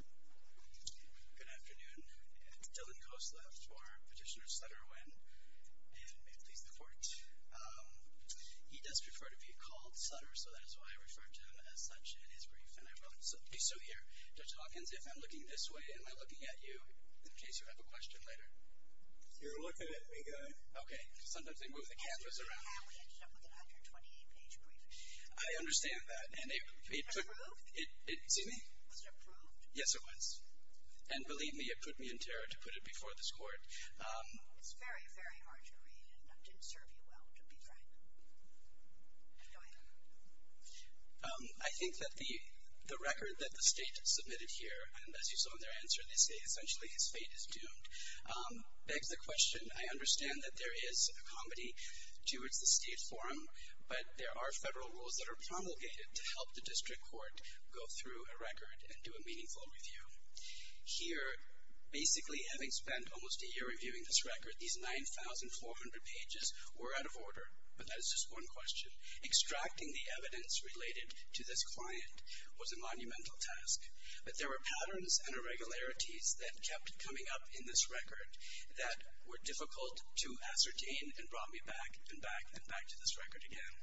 Good afternoon. It's Dylan Kostlev for Petitioner Sutter Nguyen, and may it please the Court. He does prefer to be called Sutter, so that is why I refer to him as such in his brief. So here, Judge Hawkins, if I'm looking this way, am I looking at you, in case you have a question later? You're looking at me, guy. Okay. Sometimes they move the canvas around. I'm looking at your 28-page brief. I understand that. Approved? Excuse me? Was it approved? Yes, it was. And believe me, it put me in terror to put it before this Court. It's very, very hard to read, and didn't serve you well, to be frank. Go ahead. I think that the record that the State submitted here, and as you saw in their answer, they say essentially his fate is doomed. Back to the question, I understand that there is a comedy towards the State Forum, but there are federal rules that are promulgated to help the district court go through a record and do a meaningful review. Here, basically having spent almost a year reviewing this record, these 9,400 pages were out of order. But that is just one question. Extracting the evidence related to this client was a monumental task, but there were patterns and irregularities that kept coming up in this record that were difficult to ascertain and brought me back and back and back to this record again.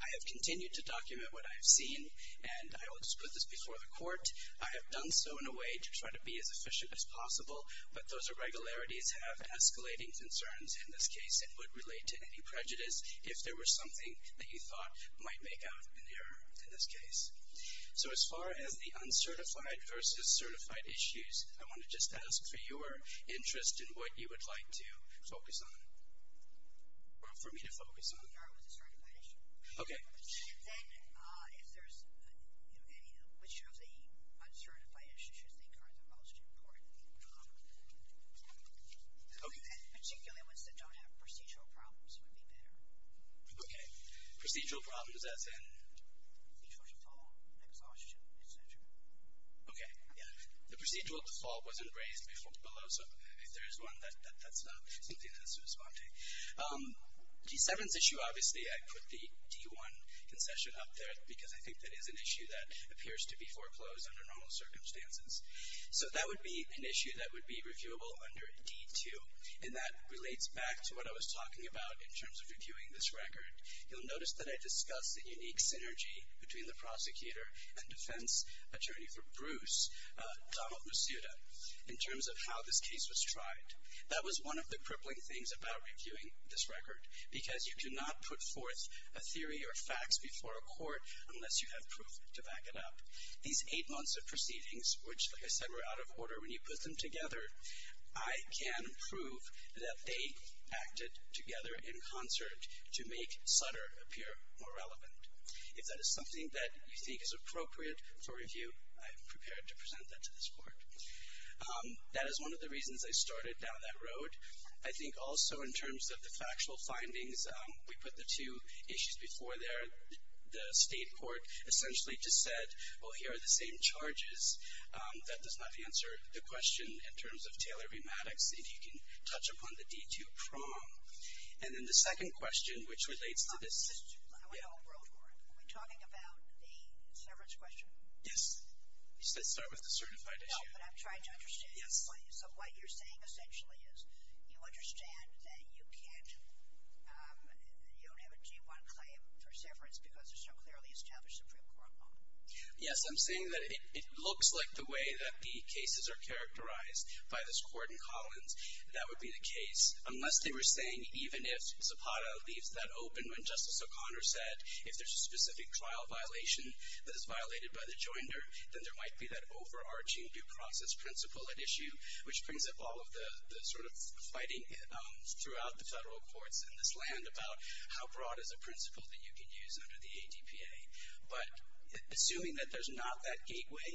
I have continued to document what I have seen, and I will just put this before the Court. I have done so in a way to try to be as efficient as possible, but those irregularities have escalating concerns in this case, and would relate to any prejudice if there were something that you thought might make out in the error in this case. So as far as the uncertified versus certified issues, I want to just ask for your interest in what you would like to focus on, or for me to focus on. We are with the certified issue. Okay. Then if there's any, which of the uncertified issues you think are the most important? And particularly ones that don't have procedural problems would be better. Okay. Procedural problems as in? Fall exhaustion, et cetera. Okay. Yeah. The procedural default wasn't raised below, so if there is one, that's not something that's responding. D7's issue, obviously, I put the D1 concession up there, because I think that is an issue that appears to be foreclosed under normal circumstances. So that would be an issue that would be reviewable under D2, and that relates back to what I was talking about in terms of reviewing this record. You'll notice that I discussed the unique synergy between the prosecutor and defense attorney for Bruce, Donald Masuda, in terms of how this case was tried. That was one of the crippling things about reviewing this record, because you cannot put forth a theory or facts before a court unless you have proof to back it up. These eight months of proceedings, which, like I said, were out of order, when you put them together, I can prove that they acted together in concert to make Sutter appear more relevant. If that is something that you think is appropriate for review, I am prepared to present that to this court. That is one of the reasons I started down that road. I think also in terms of the factual findings, we put the two issues before there. The state court essentially just said, well, here are the same charges. That does not answer the question in terms of Taylor-Re-Maddox. If you can touch upon the D2 prong. And then the second question, which relates to this. Are we talking about the severance question? Yes. You said start with the certified issue. No, but I'm trying to understand. Yes. So what you're saying essentially is you understand that you can't, you don't have a D1 claim for severance because it's so clearly established Supreme Court law. Yes. That would be the case. Unless they were saying even if Zapata leaves that open when Justice O'Connor said, if there's a specific trial violation that is violated by the joinder, then there might be that overarching due process principle at issue, which brings up all of the sort of fighting throughout the federal courts in this land about how broad is a principle that you can use under the ADPA. But assuming that there's not that gateway,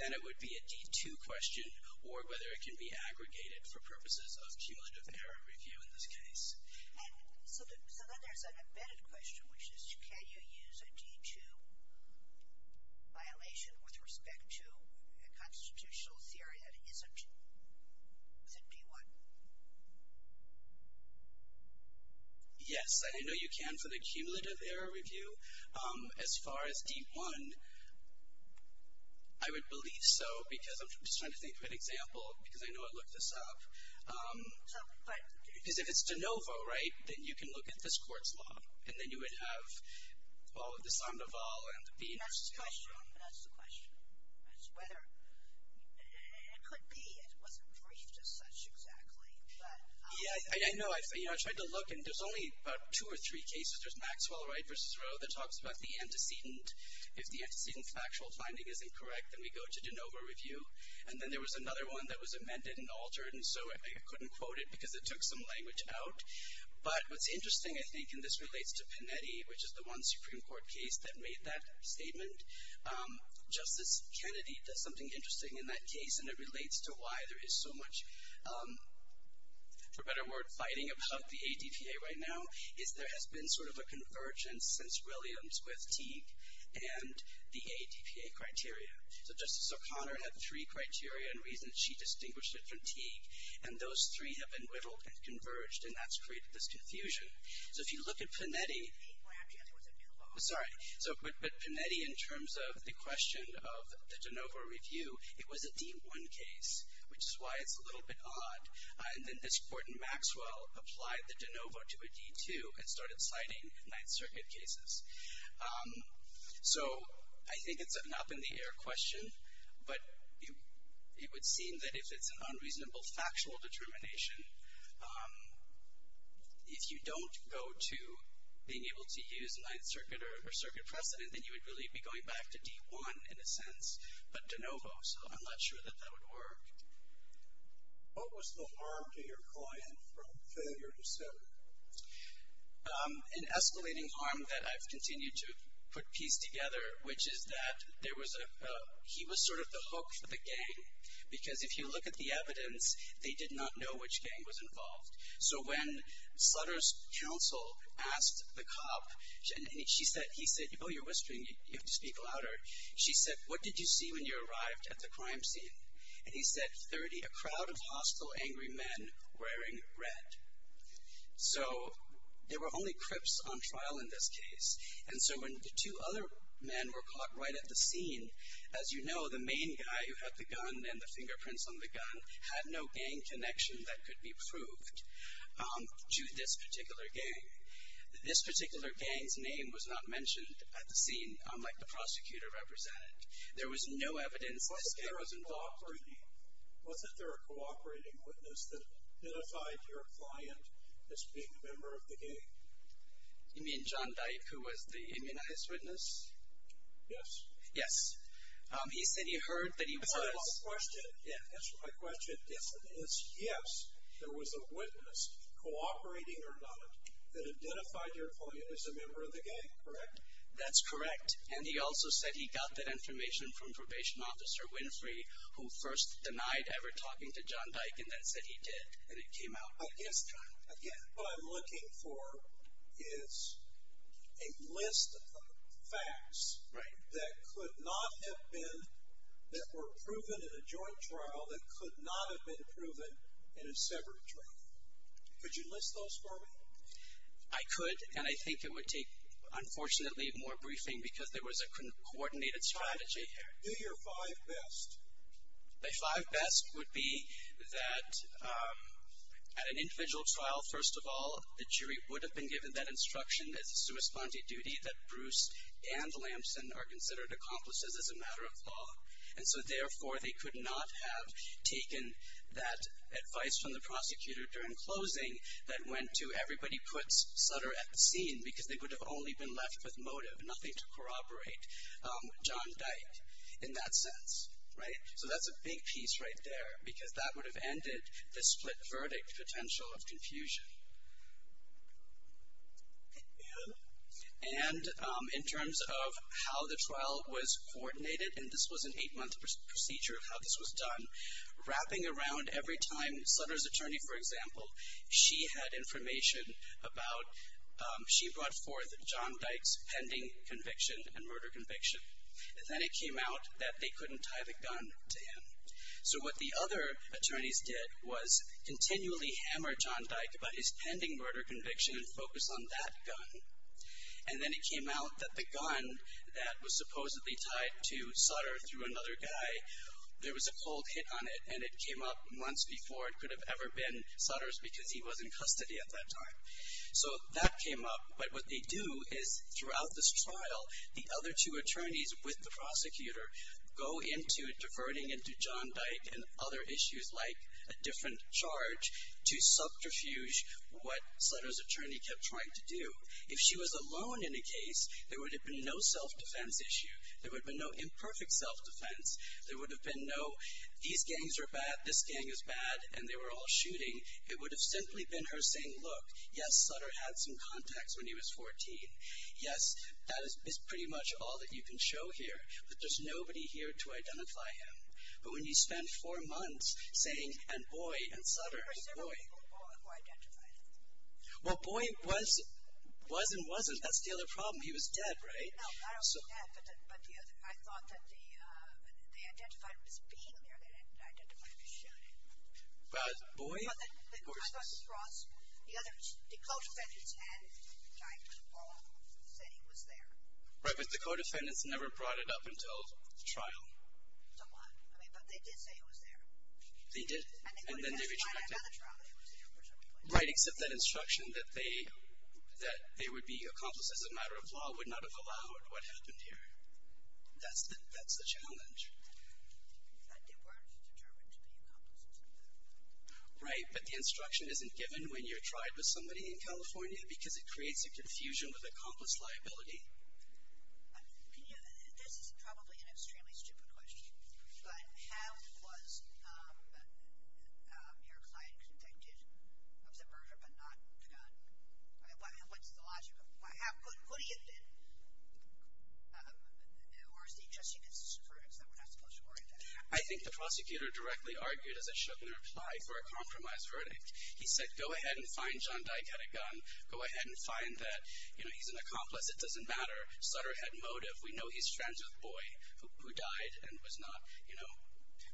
then it would be a D2 question, or whether it can be aggregated for purposes of cumulative error review in this case. So then there's an embedded question, which is, can you use a D2 violation with respect to a constitutional theory that isn't the D1? Yes, I know you can for the cumulative error review. As far as D1, I would believe so because I'm just trying to think of an example because I know I looked this up. Because if it's de novo, right, then you can look at this court's law, and then you would have, well, the Sandoval and the Peters. And that's the question. That's the question. It's whether it could be it wasn't briefed as such exactly. Yeah, I know. I tried to look, and there's only about two or three cases. There's Maxwell Wright v. Roe that talks about the antecedent. If the antecedent factual finding is incorrect, then we go to de novo review. And then there was another one that was amended and altered, and so I couldn't quote it because it took some language out. But what's interesting, I think, and this relates to Panetti, which is the one Supreme Court case that made that statement. Justice Kennedy does something interesting in that case, and it relates to why there is so much, for better word, fighting about the ADPA right now, is there has been sort of a convergence since Williams with Teague and the ADPA criteria. So Justice O'Connor had three criteria and reasons. She distinguished it from Teague, and those three have been whittled and converged, and that's created this confusion. So if you look at Panetti, but Panetti in terms of the question of the de novo review, it was a D1 case, which is why it's a little bit odd. And then this court in Maxwell applied the de novo to a D2 and started citing Ninth Circuit cases. So I think it's an up-in-the-air question, but it would seem that if it's an unreasonable factual determination, if you don't go to being able to use Ninth Circuit or circuit precedent, then you would really be going back to D1 in a sense, but de novo. So I'm not sure that that would work. What was the harm to your client from failure to sue? An escalating harm that I've continued to put piece together, which is that he was sort of the hook for the gang, because if you look at the evidence, they did not know which gang was involved. So when Sutter's counsel asked the cop, he said, oh, you're whispering, you have to speak louder. She said, what did you see when you arrived at the crime scene? And he said, 30, a crowd of hostile, angry men wearing red. So there were only crips on trial in this case. And so when the two other men were caught right at the scene, as you know, the main guy who had the gun and the fingerprints on the gun had no gang connection that could be proved to this particular gang. This particular gang's name was not mentioned at the scene, unlike the prosecutor represented. There was no evidence this gang was involved. Wasn't there a cooperating witness that identified your client as being a member of the gang? You mean John Dyke, who was the immunized witness? Yes. Yes. He said he heard that he was. Answer my question. Yes. Yes, there was a witness, cooperating or not, that identified your client as a member of the gang, correct? That's correct. And he also said he got that information from Probation Officer Winfrey, who first denied ever talking to John Dyke and then said he did, and it came out. Again, what I'm looking for is a list of facts that could not have been, that were proven in a joint trial that could not have been proven in a separate trial. Could you list those for me? I could, and I think it would take, unfortunately, more briefing, because there was a coordinated strategy here. Do your five best. My five best would be that at an individual trial, first of all, the jury would have been given that instruction as a sua sponte duty that Bruce and Lamson are considered accomplices as a matter of law. And so, therefore, they could not have taken that advice from the prosecutor during closing that went to everybody puts Sutter at the scene because they would have only been left with motive, nothing to corroborate John Dyke in that sense, right? So that's a big piece right there, because that would have ended the split verdict potential of confusion. And in terms of how the trial was coordinated, and this was an eight-month procedure of how this was done, wrapping around every time Sutter's attorney, for example, she had information about she brought forth John Dyke's pending conviction and murder conviction. Then it came out that they couldn't tie the gun to him. So what the other attorneys did was continually hammer John Dyke about his pending murder conviction and focus on that gun. And then it came out that the gun that was supposedly tied to Sutter through another guy, there was a cold hit on it, and it came up months before it could have ever been Sutter's because he was in custody at that time. So that came up, but what they do is throughout this trial, the other two attorneys with the prosecutor go into diverting into John Dyke and other issues like a different charge to subterfuge what Sutter's attorney kept trying to do. If she was alone in a case, there would have been no self-defense issue. There would have been no imperfect self-defense. There would have been no these gangs are bad, this gang is bad, and they were all shooting. It would have simply been her saying, look, yes, Sutter had some contacts when he was 14. Yes, that is pretty much all that you can show here, but there's nobody here to identify him. But when you spend four months saying, and boy, and Sutter, and boy. There were several people who identified him. Well, boy was and wasn't. That's the other problem. He was dead, right? No, not only dead, but the other. I thought that they identified him as being there. They didn't identify him as shooting. But boy, of course. I thought Ross, the other, the co-defendants and John Dyke all said he was there. Right, but the co-defendants never brought it up until the trial. Until what? I mean, but they did say he was there. They did, and then they rejected it. And then they went and tried another trial, and he was there for some reason. Right, except that instruction that they would be accomplices in a matter of law would not have allowed what happened here. That's the challenge. But they weren't determined to be accomplices in that. Right, but the instruction isn't given when you're tried with somebody in California because it creates a confusion with accomplice liability. Can you, this is probably an extremely stupid question, but how was your client convicted of the murder but not the gun? What's the logic of this? What do you think? Or is he just using his verdicts that we're not supposed to worry about? I think the prosecutor directly argued as I showed in the reply for a compromise verdict. He said, go ahead and find John Dyke had a gun. Go ahead and find that, you know, he's an accomplice. It doesn't matter. Sutter had motive. We know he's a transgender boy who died and was not, you know,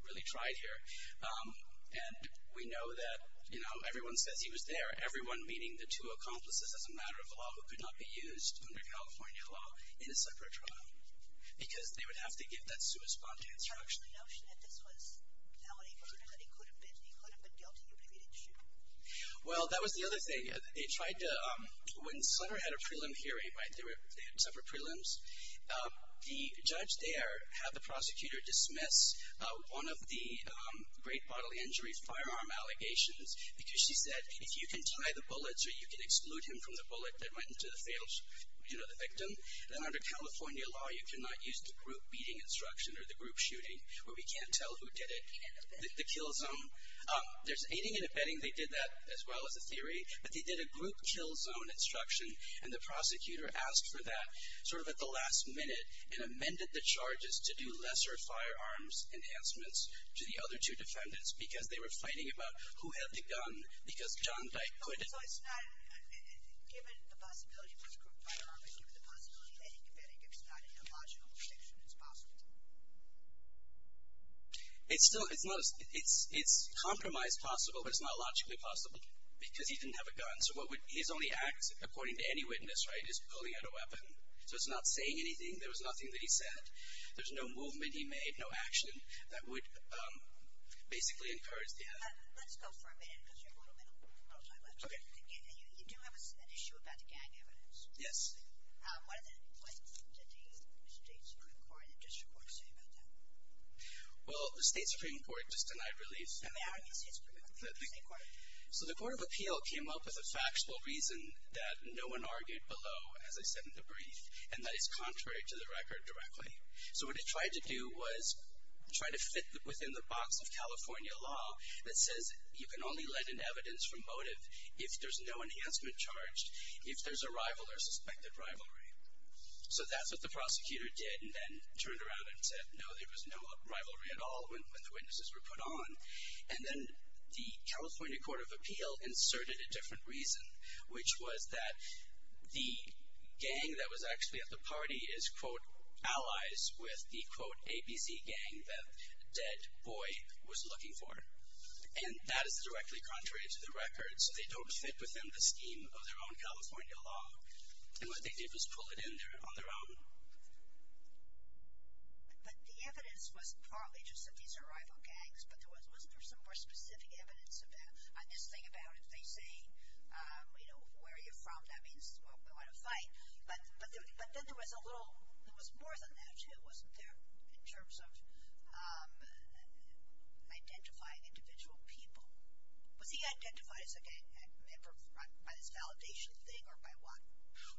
really tried here. And we know that, you know, everyone says he was there. Everyone meaning the two accomplices, as a matter of law, who could not be used under California law in a separate trial because they would have to give that suicide response. So the notion that this was how it occurred, that he could have been, he could have been guilty of the shooting? Well, that was the other thing. They tried to, when Sutter had a prelim hearing, right, they had separate prelims, the judge there had the prosecutor dismiss one of the great bodily injuries, firearm allegations, because she said if you can tie the bullets or you can exclude him from the bullet that went into the victim, then under California law you cannot use the group beating instruction or the group shooting where we can't tell who did it. The kill zone. There's aiding and abetting. They did that as well as a theory. But they did a group kill zone instruction, and the prosecutor asked for that sort of at the last minute and amended the charges to do lesser firearms enhancements to the other two defendants because they were fighting about who had the gun because John Dyke put it. So it's not, given the possibility of a group firearm, given the possibility of aiding and abetting, it's not a logical prediction, it's possible? It's still, it's not, it's compromised possible, but it's not logically possible because he didn't have a gun. So what would, his only act, according to any witness, right, is pulling out a weapon. So it's not saying anything. There was nothing that he said. There's no movement he made, no action that would basically encourage the act. Let's go for a minute because you have a little bit of time left. Okay. You do have an issue about the gang evidence. Yes. What did the State Supreme Court in the District Court say about that? Well, the State Supreme Court just denied release. Okay, argue the State Supreme Court. So the Court of Appeal came up with a factual reason that no one argued below, as I said in the brief, and that is contrary to the record directly. So what it tried to do was try to fit within the box of California law that says, you can only let in evidence from motive if there's no enhancement charged, if there's a rival or suspected rivalry. So that's what the prosecutor did and then turned around and said, no, there was no rivalry at all when the witnesses were put on. And then the California Court of Appeal inserted a different reason, which was that the gang that was actually at the party is, quote, allies with the, quote, ABC gang that dead boy was looking for. And that is directly contrary to the record. So they don't fit within the scheme of their own California law. And what they did was pull it in there on their own. But the evidence was partly just that these are rival gangs, but wasn't there some more specific evidence on this thing about if they say, you know, where are you from, that means we want to fight. But then there was a little, there was more than that, too, wasn't there in terms of identifying individual people. Was he identified as a gang member by this validation thing or by what?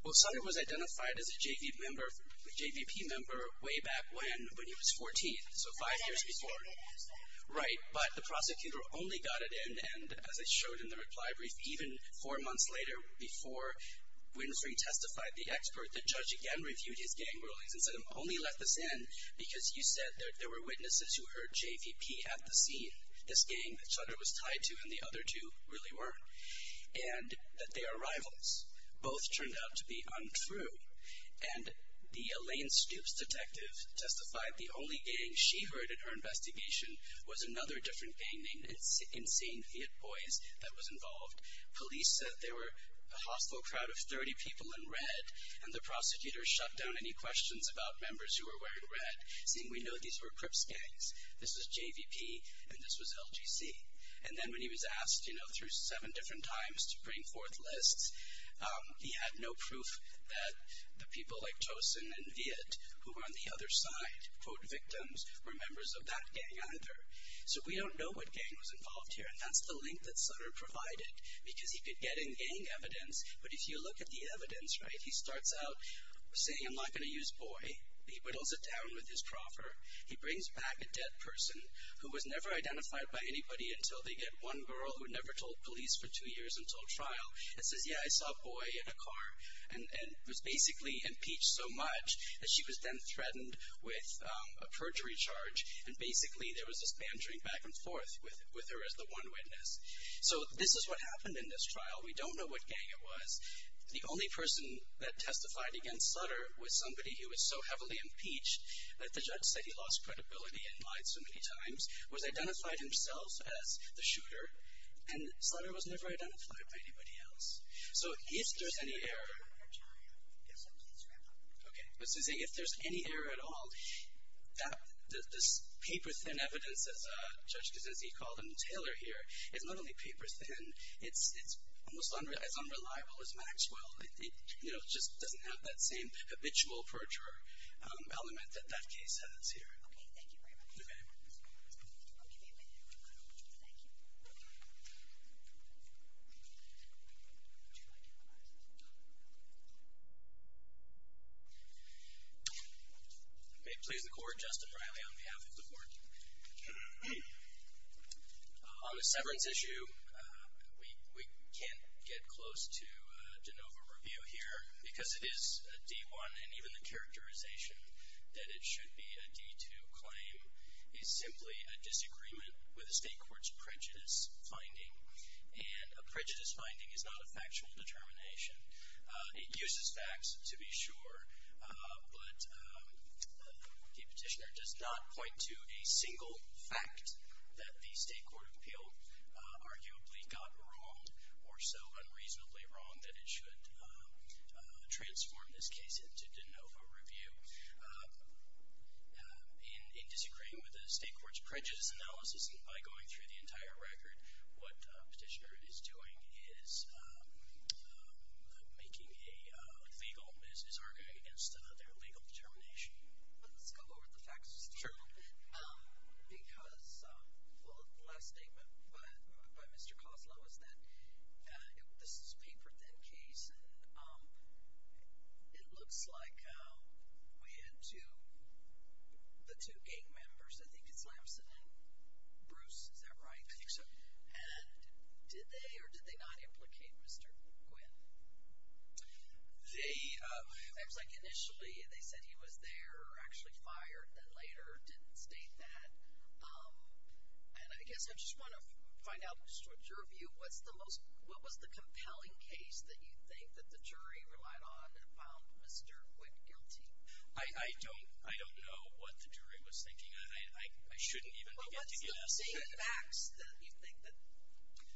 Well, Sonny was identified as a JV member, a JVP member, way back when he was 14. So five years before. Right. But the prosecutor only got it in and, as I showed in the reply brief, even four months later before Winfrey testified, the expert, the judge again reviewed his gang rulings and said, only let this in because you said there were witnesses who heard JVP at the scene. This gang that Chandra was tied to and the other two really weren't. And that they are rivals. Both turned out to be untrue. And the Elaine Stoops detective testified the only gang she heard in her investigation was another different gang named Insane Viet Boys that was involved. Police said there were a hospital crowd of 30 people in red, and the prosecutor shut down any questions about members who were wearing red, saying we know these were Crips gangs. This was JVP and this was LGC. And then when he was asked, you know, through seven different times to bring forth lists, he had no proof that the people like Tosin and Viet, who were on the other side, quote, victims, were members of that gang either. So we don't know what gang was involved here. And that's the link that Sutter provided because he could get in gang evidence, but if you look at the evidence, right, he starts out saying I'm not going to use boy. He whittles it down with his proffer. He brings back a dead person who was never identified by anybody until they get one girl who never told police for two years until trial and says, yeah, I saw boy in a car. And was basically impeached so much that she was then threatened with a perjury charge, and basically there was this bantering back and forth with her as the one witness. So this is what happened in this trial. We don't know what gang it was. The only person that testified against Sutter was somebody who was so heavily impeached that the judge said he lost credibility and lied so many times, was identified himself as the shooter, and Sutter was never identified by anybody else. So if there's any error at all, this paper-thin evidence, as Judge Gesency called him, Taylor here, is not only paper-thin, it's almost as unreliable as Maxwell. It just doesn't have that same habitual perjurer element that that case has here. Okay, thank you very much. Okay. I'll give you a minute. Thank you. May it please the Court, Justin Riley on behalf of the Court. On the severance issue, we can't get close to de novo review here because it is a D-1, and even the characterization that it should be a D-2 claim is simply a disagreement with the State Court's prejudice finding, and a prejudice finding is not a factual determination. It uses facts to be sure, but the petitioner does not point to a single fact that the State Court arguably got wrong, or so unreasonably wrong, that it should transform this case into de novo review. In disagreeing with the State Court's prejudice analysis, and by going through the entire record, what the petitioner is doing is making a legal, is arguing against their legal determination. Let's go over the facts just a little bit. Sure. Because, well, the last statement by Mr. Koslow is that this is a paper-thin case, and it looks like we had two, the two gang members, I think it's Lamson and Bruce, is that right? I think so. And did they or did they not implicate Mr. Quinn? They, it was like initially they said he was there, or actually fired, and later didn't state that. And I guess I just want to find out your view. What's the most, what was the compelling case that you think that the jury relied on and found Mr. Quinn guilty? I don't know what the jury was thinking. I shouldn't even begin to guess. Well, what's the main facts that you think that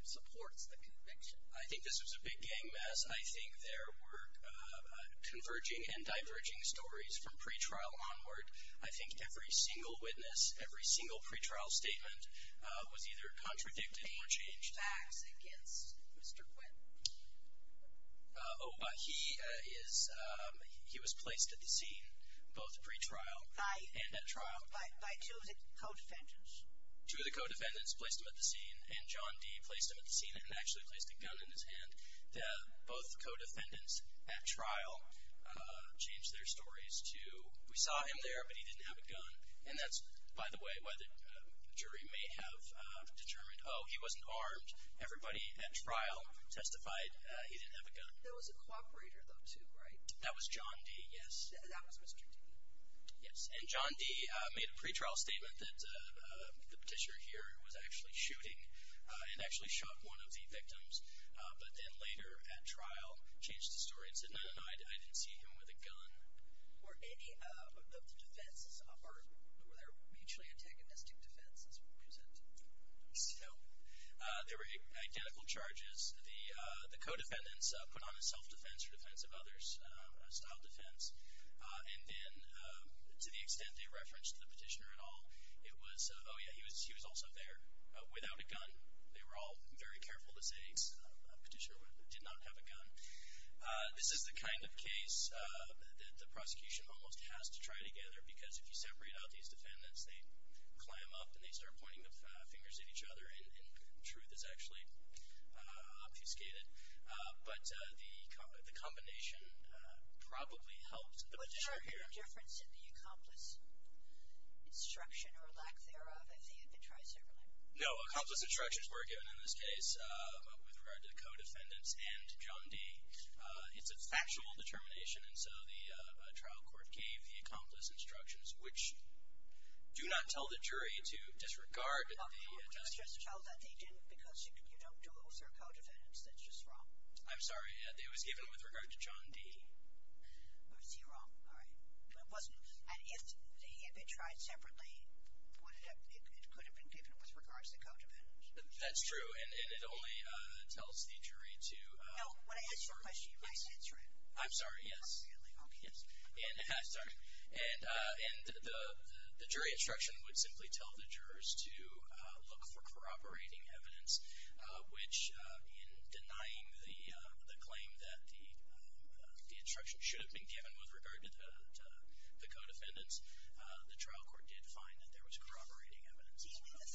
supports the conviction? I think this was a big gang mess. I think there were converging and diverging stories from pretrial onward. I think every single witness, every single pretrial statement was either contradicted or changed. Any facts against Mr. Quinn? Oh, he is, he was placed at the scene, both pretrial and at trial. By two of the co-defendants? Two of the co-defendants placed him at the scene, and John D. placed him at the scene and actually placed a gun in his hand. Both co-defendants at trial changed their stories to, we saw him there, but he didn't have a gun. And that's, by the way, why the jury may have determined, oh, he wasn't armed. Everybody at trial testified he didn't have a gun. There was a cooperator, though, too, right? That was John D., yes. That was Mr. D. Yes, and John D. made a pretrial statement that the petitioner here was actually shooting and actually shot one of the victims, but then later at trial changed his story and said, no, no, no, I didn't see him with a gun. Were any of the defenses, or were there mutually antagonistic defenses present? No. There were identical charges. The co-defendants put on a self-defense for defense of others, a style defense. And then to the extent they referenced the petitioner at all, it was, oh, yeah, he was also there without a gun. They were all very careful to say a petitioner did not have a gun. This is the kind of case that the prosecution almost has to try together because if you separate out these defendants, they climb up and they start pointing their fingers at each other, and truth is actually obfuscated. But the combination probably helped the petitioner here. Was there any difference in the accomplice instruction or lack thereof as the appetizer? No. Accomplice instructions were given in this case with regard to the co-defendants and John D. It's a factual determination, and so the trial court gave the accomplice instructions, which do not tell the jury to disregard the justification. You just tell that they didn't because you don't do it with their co-defendants. That's just wrong. I'm sorry. It was given with regard to John D. Was he wrong? All right. It wasn't. And if they had been tried separately, it could have been given with regard to the co-defendants. That's true, and it only tells the jury to disregard. No, when I ask you a question, you must answer it. I'm sorry, yes. Appropriately, okay. Yes. And the jury instruction would simply tell the jurors to look for corroborating evidence, which in denying the claim that the instruction should have been given with regard to the co-defendants, the trial court did find that there was corroborating evidence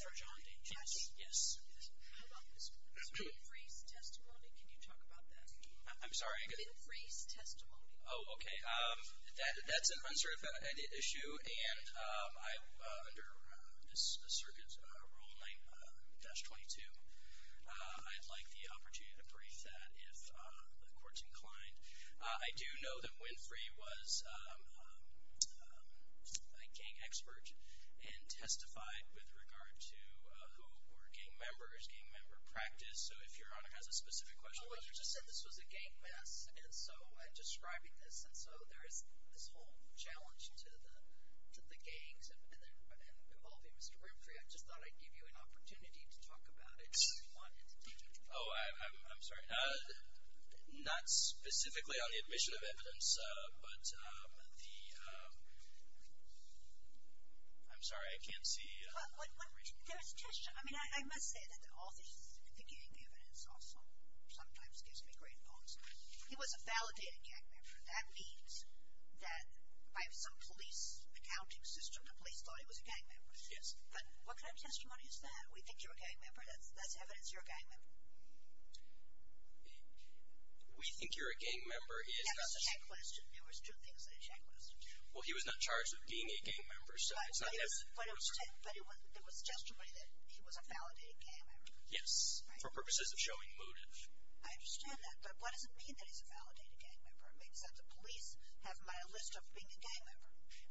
for John D. Can I ask you a question? Yes, yes. How about this? Is there any race testimony? Can you talk about that? I'm sorry? Is there any race testimony? Oh, okay. That's an uncertified issue, and under this circuit's Rule 9-22, I'd like the opportunity to brief that if the court's inclined. I do know that Winfrey was a gang expert and testified with regard to who were gang members, gang member practice. So if Your Honor has a specific question. Well, you just said this was a gang mess, and so I'm describing this, and so there is this whole challenge to the gangs involving Mr. Winfrey. I just thought I'd give you an opportunity to talk about it if you wanted. Oh, I'm sorry. Not specifically on the admission of evidence, but the ‑‑ I'm sorry, I can't see. There's testimony. I mean, I must say that all the gang evidence also sometimes gives me green bones. He was a validated gang member. That means that by some police accounting system, the police thought he was a gang member. Yes. But what kind of testimony is that? We think you're a gang member. That's evidence you're a gang member. We think you're a gang member. That was a tech question. There was two things in the tech question. Well, he was not charged with being a gang member, so it's not as ‑‑ But it was testimony that he was a validated gang member. Yes, for purposes of showing motive. I understand that, but what does it mean that he's a validated gang member? I mean, does that the police have him on a list of being a gang member?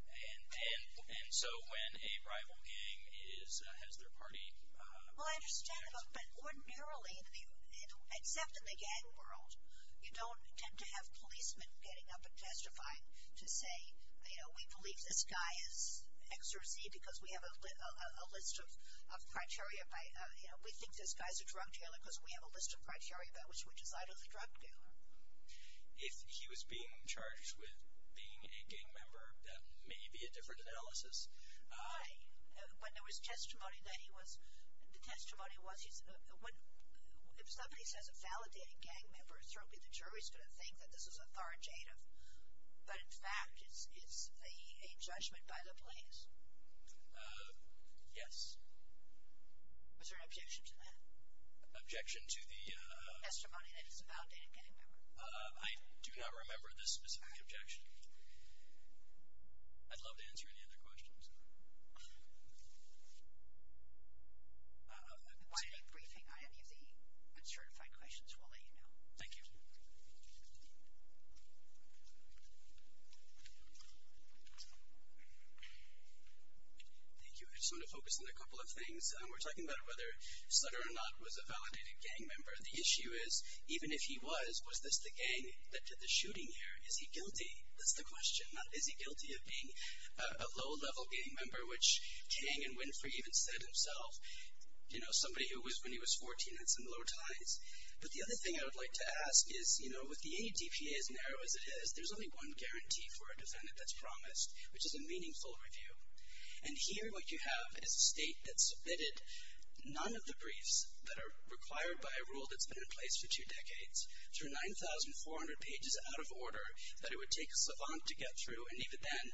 And so when a rival gang has their party ‑‑ Well, I understand that, but ordinarily, except in the gang world, you don't tend to have policemen getting up and testifying to say, you know, we believe this guy is X or Z because we have a list of criteria. You know, we think this guy's a drug dealer because we have a list of criteria by which we decide he's a drug dealer. If he was being charged with being a gang member, that may be a different analysis. Why? When there was testimony that he was ‑‑ the testimony was if somebody says a validated gang member, certainly the jury's going to think that this is authoritative. But, in fact, it's a judgment by the police. Yes. Was there an objection to that? Objection to the ‑‑ Testimony that he's a validated gang member. I do not remember this specific objection. I'd love to answer any other questions. Why don't we brief him on any of the uncertified questions. We'll let you know. Thank you. Thank you. I just want to focus on a couple of things. We're talking about whether Sutter or not was a validated gang member. The issue is, even if he was, was this the gang that did the shooting here? Is he guilty? That's the question. Is he guilty of being a low‑level gang member, which Tang and Winfrey even said themselves. You know, somebody who was when he was 14, that's in low ties. But the other thing I would like to ask is, you know, with the ADPA as narrow as it is, there's only one guarantee for a defendant that's promised, which is a meaningful review. And here what you have is a state that submitted none of the briefs that are required by a rule that's been in place for two decades, through 9,400 pages out of order, that it would take a savant to get through, and even then,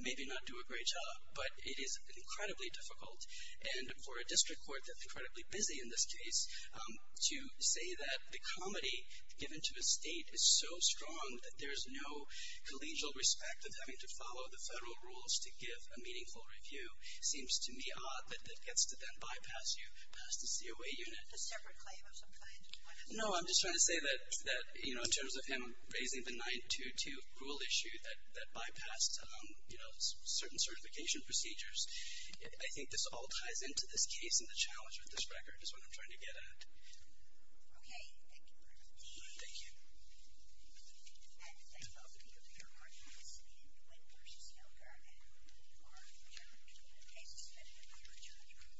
maybe not do a great job. But it is incredibly difficult, and for a district court that's incredibly busy in this case, to say that the comity given to a state is so strong that there's no collegial respect of having to follow the federal rules to give a meaningful review, seems to me odd that it gets to then bypass you, pass the COA unit. A separate claim of some kind? No, I'm just trying to say that, you know, in terms of him raising the 922 rule issue that bypassed, you know, certain certification procedures, I think this all ties into this case and the challenge with this record is what I'm trying to get at. Okay, thank you very much. Thank you. And I'd love to hear your arguments in Quinn v. Hilder and who are your cases that you would like to review.